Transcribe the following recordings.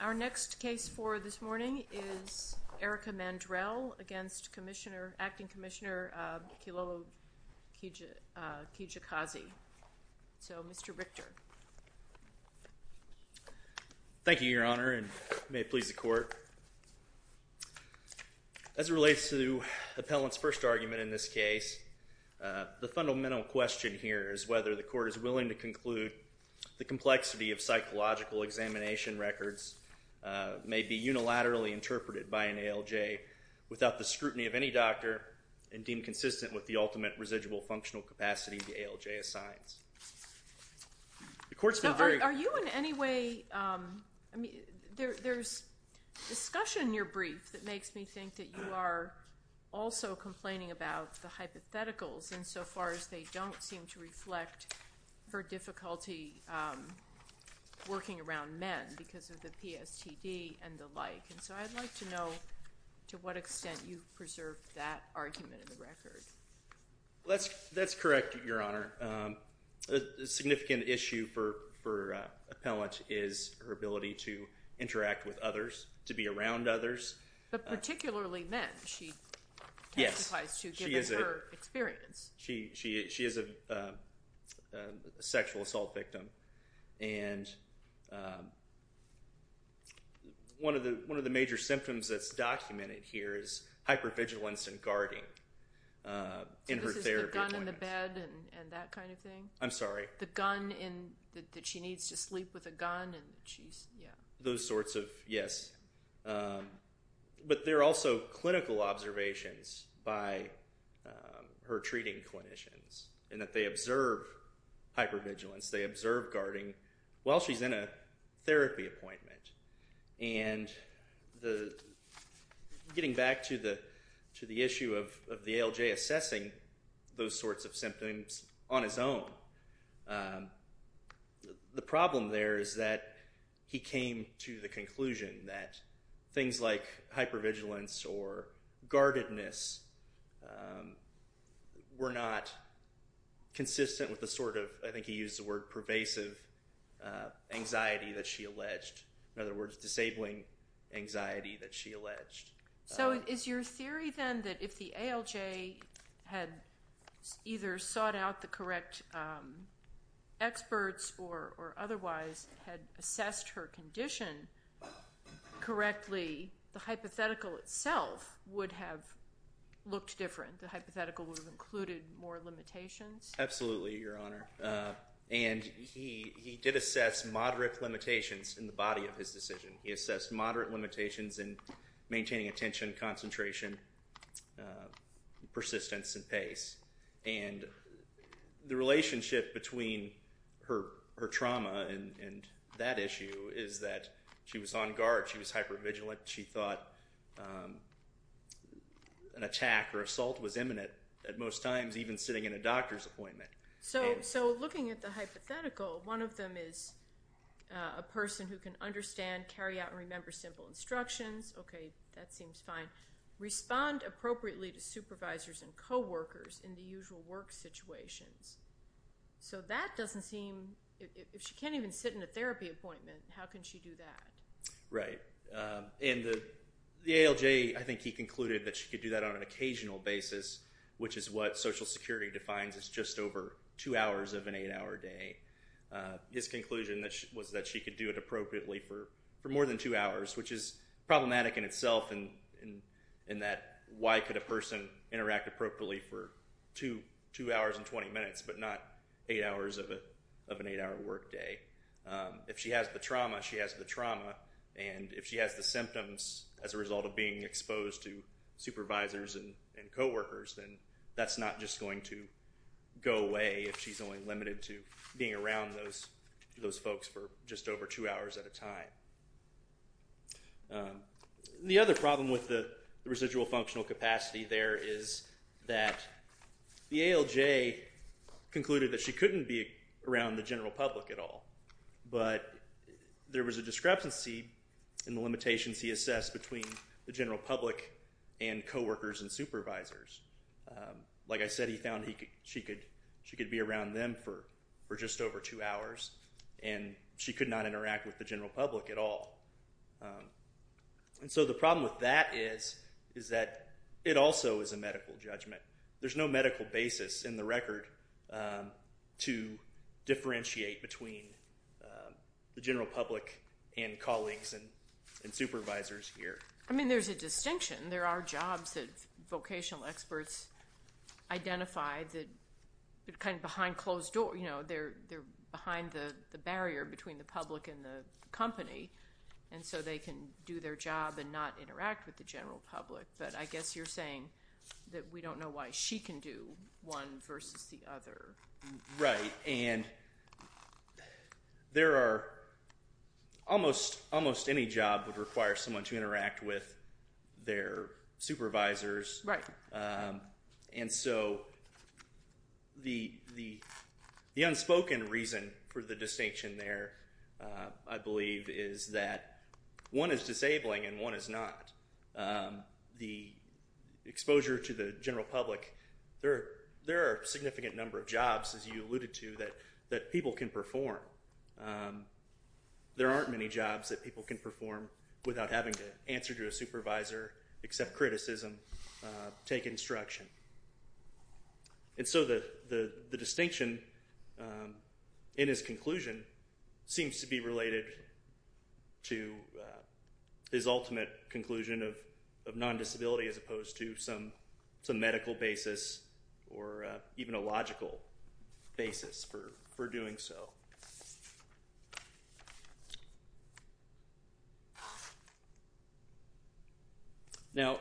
Our next case for this morning is Erika Mandrell against Acting Commissioner Kilolo Kijakazi. So, Mr. Richter. Thank you, Your Honor, and may it please the Court. As it relates to is whether the Court is willing to conclude the complexity of psychological examination records may be unilaterally interpreted by an ALJ without the scrutiny of any doctor and deemed consistent with the ultimate residual functional capacity the ALJ assigns. Are you in any way, there's discussion in your brief that makes me think that you are also complaining about the hypotheticals insofar as they don't seem to reflect her difficulty working around men because of the PSTD and the like. And so I'd like to know to what extent you've preserved that argument in the record. That's correct, Your Honor. A significant issue for appellants is her ability to interact with others, to be around others. But particularly men, she testifies to given her experience. She is a sexual assault victim and one of the major symptoms that's documented here is hypervigilance and guarding in her therapy appointments. So this is the gun in the bed and that kind of thing? I'm sorry. The gun in, that she needs to sleep with a gun and she's, yeah. Those sorts of, yes. But there are also clinical observations by her treating clinicians and that they observe hypervigilance, they observe guarding while she's in a therapy appointment. And getting back to the issue of the ALJ assessing those sorts of symptoms on his own, the problem there is that he came to the conclusion that things like hypervigilance or guardedness were not consistent with the sort of, I think he used the word pervasive, anxiety that she alleged. In other words, disabling anxiety that she alleged. So is your theory then that if the ALJ had either sought out the correct experts or otherwise had assessed her condition correctly, the hypothetical itself would have looked different? The hypothetical would have included more limitations? Absolutely, Your Honor. And he did assess moderate limitations in the body of his decision. He assessed moderate limitations in maintaining attention, concentration, persistence, and pace. And the relationship between her trauma and that issue is that she was on guard. She was hypervigilant. She thought an attack or assault was imminent at most times, even sitting in a doctor's appointment. So looking at the hypothetical, one of them is a person who can understand, carry out, and remember simple instructions. Okay, that seems fine. Respond appropriately to supervisors and coworkers in the usual work situations. So that doesn't seem, if she can't even sit in a therapy appointment, how can she do that? Right. And the ALJ, I think he concluded that she could do that on an occasional basis, which is what Social Security defines as just over 2 hours of an 8-hour day. His conclusion was that she could do it appropriately for more than 2 hours, which is problematic in itself in that why could a person interact appropriately for 2 hours and 20 minutes but not 8 hours of an 8-hour work day? If she has the trauma, she has the trauma. And if she has the symptoms as a result of being then that's not just going to go away if she's only limited to being around those folks for just over 2 hours at a time. The other problem with the residual functional capacity there is that the ALJ concluded that she couldn't be around the general public at all. But there was a discrepancy in the limitations he assessed between the general public and coworkers and supervisors. Like I said, he found she could be around them for just over 2 hours and she could not interact with the general public at all. And so the problem with that is that it also is a medical judgment. There's no medical basis in the record to differentiate between the general public and colleagues and supervisors here. I mean, there's a distinction. There are jobs that vocational experts identify that kind of behind closed doors. They're behind the barrier between the public and the company. And so they can do their job and not interact with the general public. But I guess you're saying that we don't know why she can do one versus the other. Right. And there are almost any job that requires someone to interact with their supervisors. Right. And so the unspoken reason for the distinction there, I believe, is that one is disabling and one is not. The exposure to the general public, there are a significant number of jobs, as you alluded to, that people can perform. There aren't many jobs that people can perform without having to answer to a supervisor, accept criticism, take instruction. And so the distinction in his conclusion seems to be related to his ultimate conclusion of non-disability as opposed to some medical basis or even a logical basis for doing so. Now,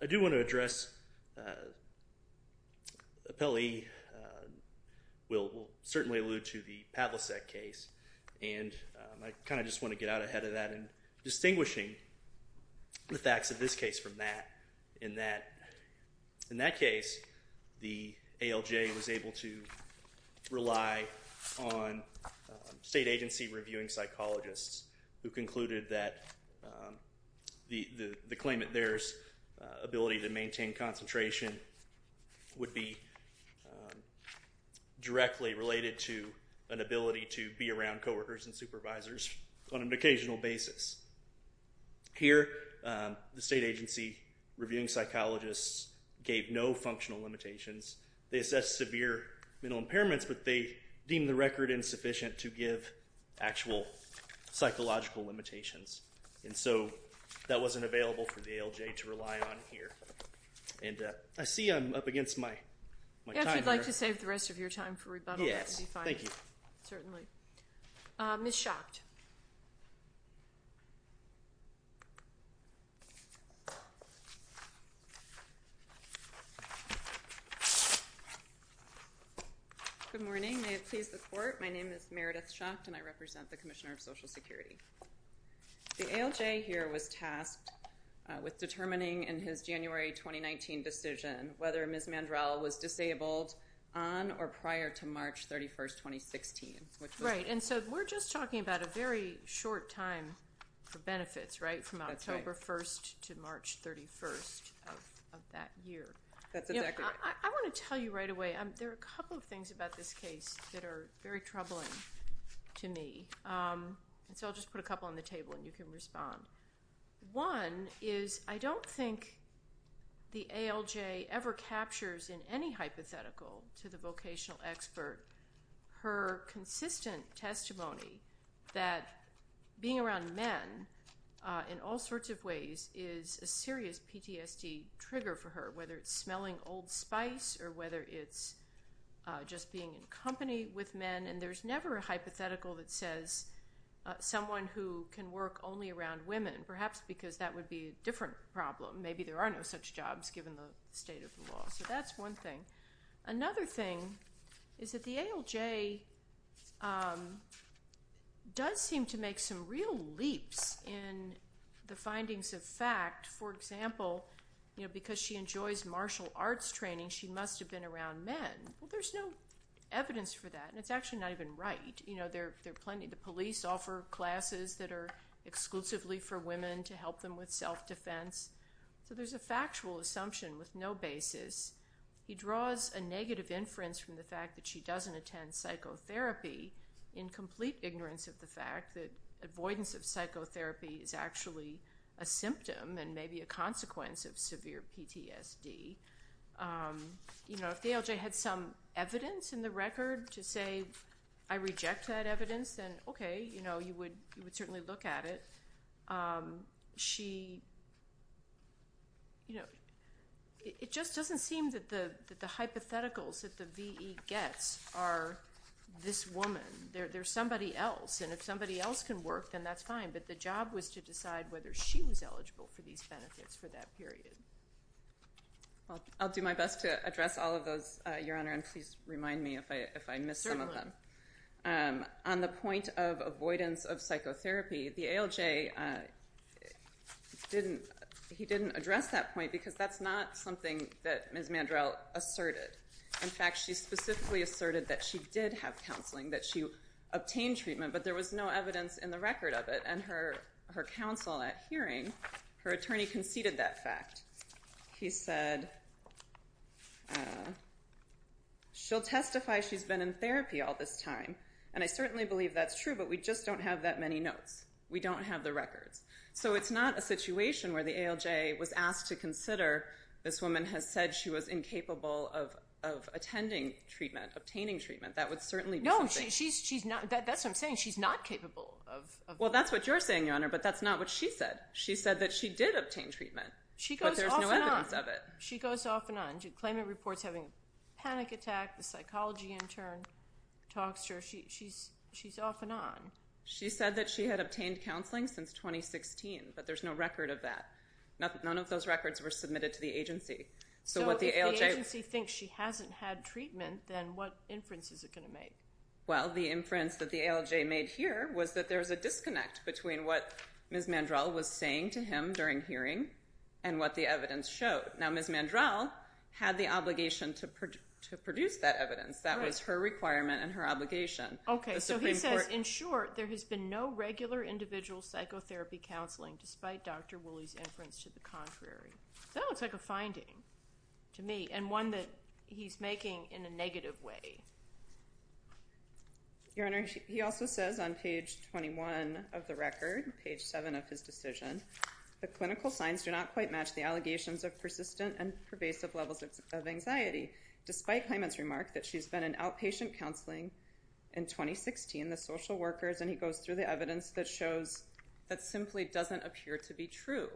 I do want to address Appellee will certainly allude to the Pavlicek case. And I kind of just want to get out ahead of that in distinguishing the facts of this case from that, In that case, the ALJ was able to rely on state agency reviewing psychologists who concluded that the claimant there's ability to maintain concentration would be directly related to an ability to be around coworkers and supervisors on an occasional basis. Here, the state agency reviewing psychologists gave no functional limitations. They assessed severe mental impairments, but they deemed the record insufficient to give actual psychological limitations. And so that wasn't available for the ALJ to rely on here. And I see I'm up against my time here. If you'd like to save the rest of your time for rebuttal, that would be fine. Yes, thank you. Certainly. Ms. Schacht. Good morning. May it please the court. My name is Meredith Schacht and I represent the Commissioner of Social Security. The ALJ here was tasked with determining in his January 2019 decision whether Ms. Mandrell was disabled on or prior to March 31st, 2016. Right, and so we're just talking about a very short time for benefits, right, from October 1st to March 31st of that year. That's exactly right. I want to tell you right away, there are a couple of things about this case that are very troubling to me. And so I'll just put a couple on the table and you can respond. One is I don't think the ALJ ever captures in any hypothetical to the vocational expert her consistent testimony that being around men in all sorts of ways is a serious PTSD trigger for her, whether it's smelling old spice or whether it's just being in company with men. And there's never a hypothetical that says someone who can work only around women, perhaps because that would be a different problem. Maybe there are no such jobs given the state of the law. So that's one thing. Another thing is that the ALJ does seem to make some real leaps in the findings of fact. For example, because she enjoys martial arts training, she must have been around men. Well, there's no evidence for that, and it's actually not even right. The police offer classes that are exclusively for women to help them with self-defense. So there's a factual assumption with no basis. He draws a negative inference from the fact that she doesn't attend psychotherapy in complete ignorance of the fact that avoidance of psychotherapy is actually a symptom and maybe a consequence of severe PTSD. You know, if the ALJ had some evidence in the record to say, I reject that evidence, then okay, you know, you would certainly look at it. She, you know, it just doesn't seem that the hypotheticals that the VE gets are this woman. There's somebody else, and if somebody else can work, then that's fine. But the job was to decide whether she was eligible for these benefits for that period. I'll do my best to address all of those, Your Honor, and please remind me if I miss some of them. On the point of avoidance of psychotherapy, the ALJ didn't address that point because that's not something that Ms. Mandrell asserted. In fact, she specifically asserted that she did have counseling, that she obtained treatment, but there was no evidence in the record of it. And her counsel at hearing, her attorney, conceded that fact. He said, she'll testify she's been in therapy all this time, and I certainly believe that's true, but we just don't have that many notes. We don't have the records. So it's not a situation where the ALJ was asked to consider, this woman has said she was incapable of attending treatment, obtaining treatment. That would certainly be something. No, she's not. That's what I'm saying. She's not capable of. Well, that's what you're saying, Your Honor, but that's not what she said. She said that she did obtain treatment, but there's no evidence of it. She goes off and on. She goes off and on. Claimant reports having a panic attack, the psychology intern talks to her. She's off and on. She said that she had obtained counseling since 2016, but there's no record of that. None of those records were submitted to the agency. So if the agency thinks she hasn't had treatment, then what inference is it going to make? Well, the inference that the ALJ made here was that there's a disconnect between what Ms. Mandrell was saying to him during hearing and what the evidence showed. Now, Ms. Mandrell had the obligation to produce that evidence. That was her requirement and her obligation. Okay, so he says, in short, there has been no regular individual psychotherapy counseling despite Dr. Woolley's inference to the contrary. That looks like a finding to me and one that he's making in a negative way. Your Honor, he also says on page 21 of the record, page 7 of his decision, the clinical signs do not quite match the allegations of persistent and pervasive levels of anxiety, despite Claimant's remark that she's been in outpatient counseling in 2016, the social workers, and he goes through the evidence that shows that simply doesn't appear to be true.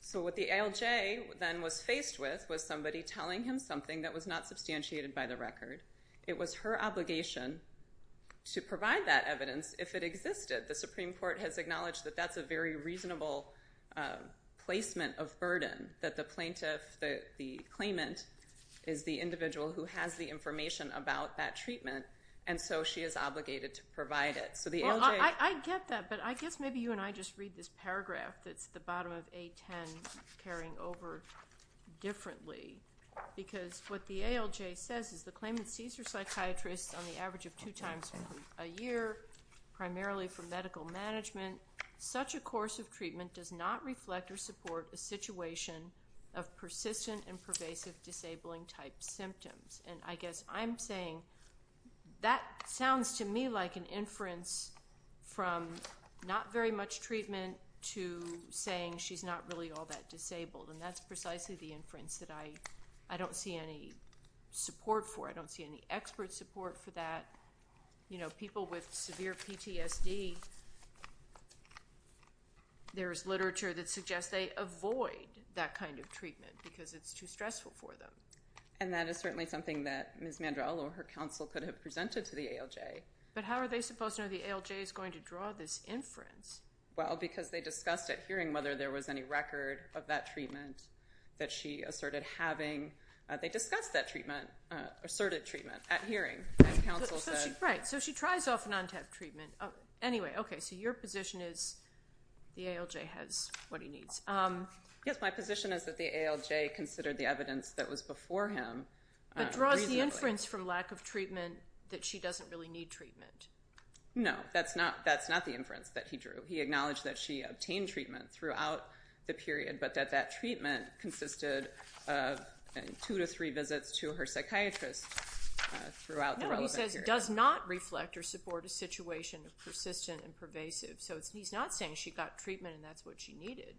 So what the ALJ then was faced with was somebody telling him something that was not substantiated by the record. It was her obligation to provide that evidence if it existed. The Supreme Court has acknowledged that that's a very reasonable placement of burden, that the plaintiff, the claimant, is the individual who has the information about that treatment, and so she is obligated to provide it. Well, I get that, but I guess maybe you and I just read this paragraph that's at the bottom of A10 and I'm carrying over differently because what the ALJ says is the claimant sees her psychiatrist on the average of two times a year, primarily for medical management. Such a course of treatment does not reflect or support a situation of persistent and pervasive disabling-type symptoms, and I guess I'm saying that sounds to me like an inference from not very much treatment to saying she's not really all that disabled, and that's precisely the inference that I don't see any support for. I don't see any expert support for that. You know, people with severe PTSD, there is literature that suggests they avoid that kind of treatment because it's too stressful for them. And that is certainly something that Ms. Mandrell or her counsel could have presented to the ALJ. But how are they supposed to know the ALJ is going to draw this inference? Well, because they discussed at hearing whether there was any record of that treatment that she asserted having. They discussed that treatment, asserted treatment, at hearing, as counsel said. Right, so she tries often not to have treatment. Anyway, okay, so your position is the ALJ has what he needs. Yes, my position is that the ALJ considered the evidence that was before him reasonably. But draws the inference from lack of treatment that she doesn't really need treatment. No, that's not the inference that he drew. He acknowledged that she obtained treatment throughout the period, but that that treatment consisted of two to three visits to her psychiatrist throughout the relevant period. No, he says does not reflect or support a situation of persistent and pervasive. So he's not saying she got treatment and that's what she needed.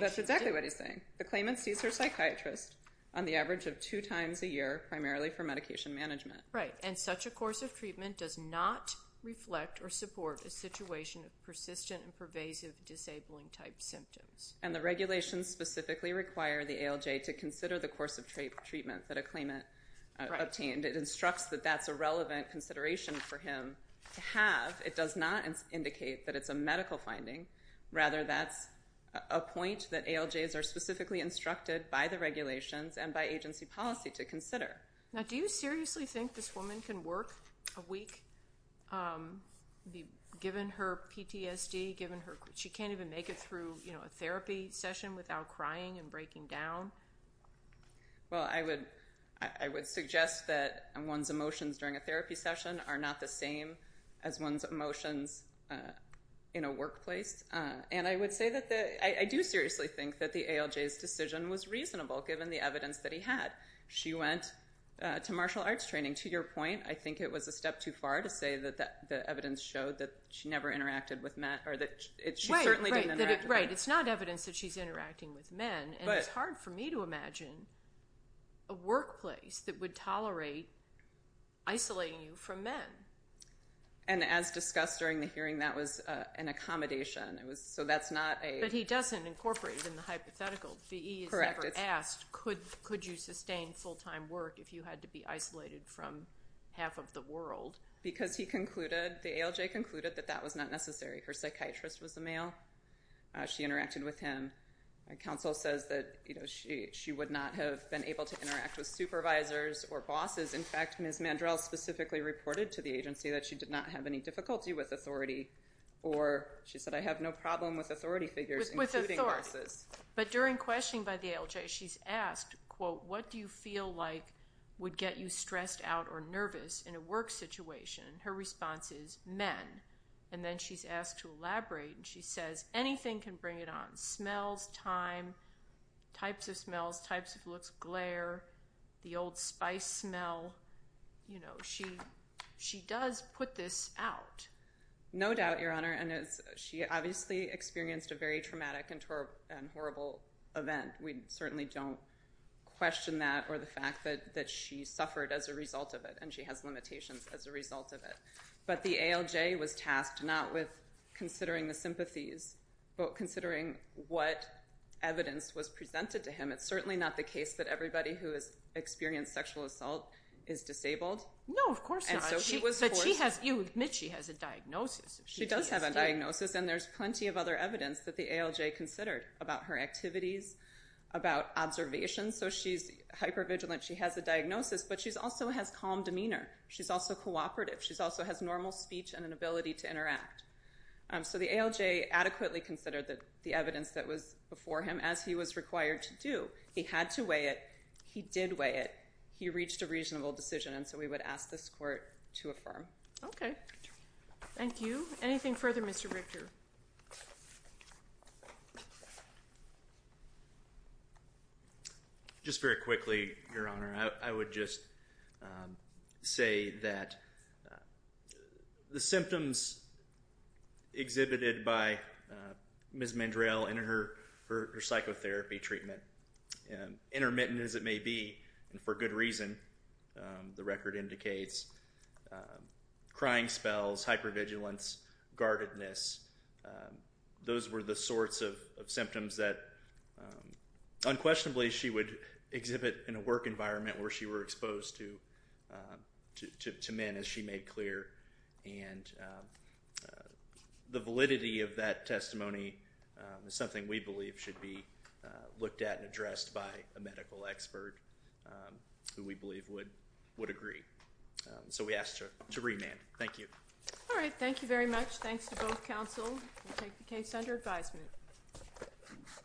That's exactly what he's saying. The claimant sees her psychiatrist on the average of two times a year, primarily for medication management. Right, and such a course of treatment does not reflect or support a situation of persistent and pervasive disabling-type symptoms. And the regulations specifically require the ALJ to consider the course of treatment that a claimant obtained. It instructs that that's a relevant consideration for him to have. It does not indicate that it's a medical finding. Rather, that's a point that ALJs are specifically instructed by the regulations and by agency policy to consider. Now, do you seriously think this woman can work a week given her PTSD, given she can't even make it through a therapy session without crying and breaking down? Well, I would suggest that one's emotions during a therapy session are not the same as one's emotions in a workplace. And I would say that I do seriously think that the ALJ's decision was reasonable given the evidence that he had. She went to martial arts training. To your point, I think it was a step too far to say that the evidence showed that she never interacted with men or that she certainly didn't interact with men. Right, it's not evidence that she's interacting with men, and it's hard for me to imagine a workplace that would tolerate isolating you from men. And as discussed during the hearing, that was an accommodation. So that's not a... But he doesn't incorporate it in the hypothetical. The E is never asked, could you sustain full-time work if you had to be isolated from half of the world? Because he concluded, the ALJ concluded, that that was not necessary. Her psychiatrist was a male. She interacted with him. Counsel says that she would not have been able to interact with supervisors or bosses. In fact, Ms. Mandrell specifically reported to the agency that she did not have any difficulty with authority, or she said, I have no problem with authority figures, including bosses. But during questioning by the ALJ, she's asked, quote, what do you feel like would get you stressed out or nervous in a work situation? Her response is men. And then she's asked to elaborate, and she says, anything can bring it on, smells, time, types of smells, types of looks, glare, the old spice smell. You know, she does put this out. No doubt, Your Honor. She obviously experienced a very traumatic and horrible event. We certainly don't question that or the fact that she suffered as a result of it and she has limitations as a result of it. But the ALJ was tasked not with considering the sympathies, but considering what evidence was presented to him. It's certainly not the case that everybody who has experienced sexual assault is disabled. No, of course not. But you admit she has a diagnosis of PTSD. She does have a diagnosis, and there's plenty of other evidence that the ALJ considered about her activities, about observations. So she's hypervigilant. She has a diagnosis, but she also has calm demeanor. She's also cooperative. She also has normal speech and an ability to interact. So the ALJ adequately considered the evidence that was before him, as he was required to do. He had to weigh it. He did weigh it. He reached a reasonable decision. And so we would ask this court to affirm. Okay. Thank you. Anything further, Mr. Richter? Just very quickly, Your Honor. I would just say that the symptoms exhibited by Ms. Mandrell in her psychotherapy treatment, intermittent as it may be, and for good reason, the record indicates, crying spells, hypervigilance, guardedness, those were the sorts of symptoms that unquestionably she would exhibit in a work environment where she were exposed to men, as she made clear. And the validity of that testimony is something we believe should be looked at and addressed by a medical expert who we believe would agree. So we ask to remand. Thank you. All right. Thank you very much. Thanks to both counsel. We'll take the case under advisement.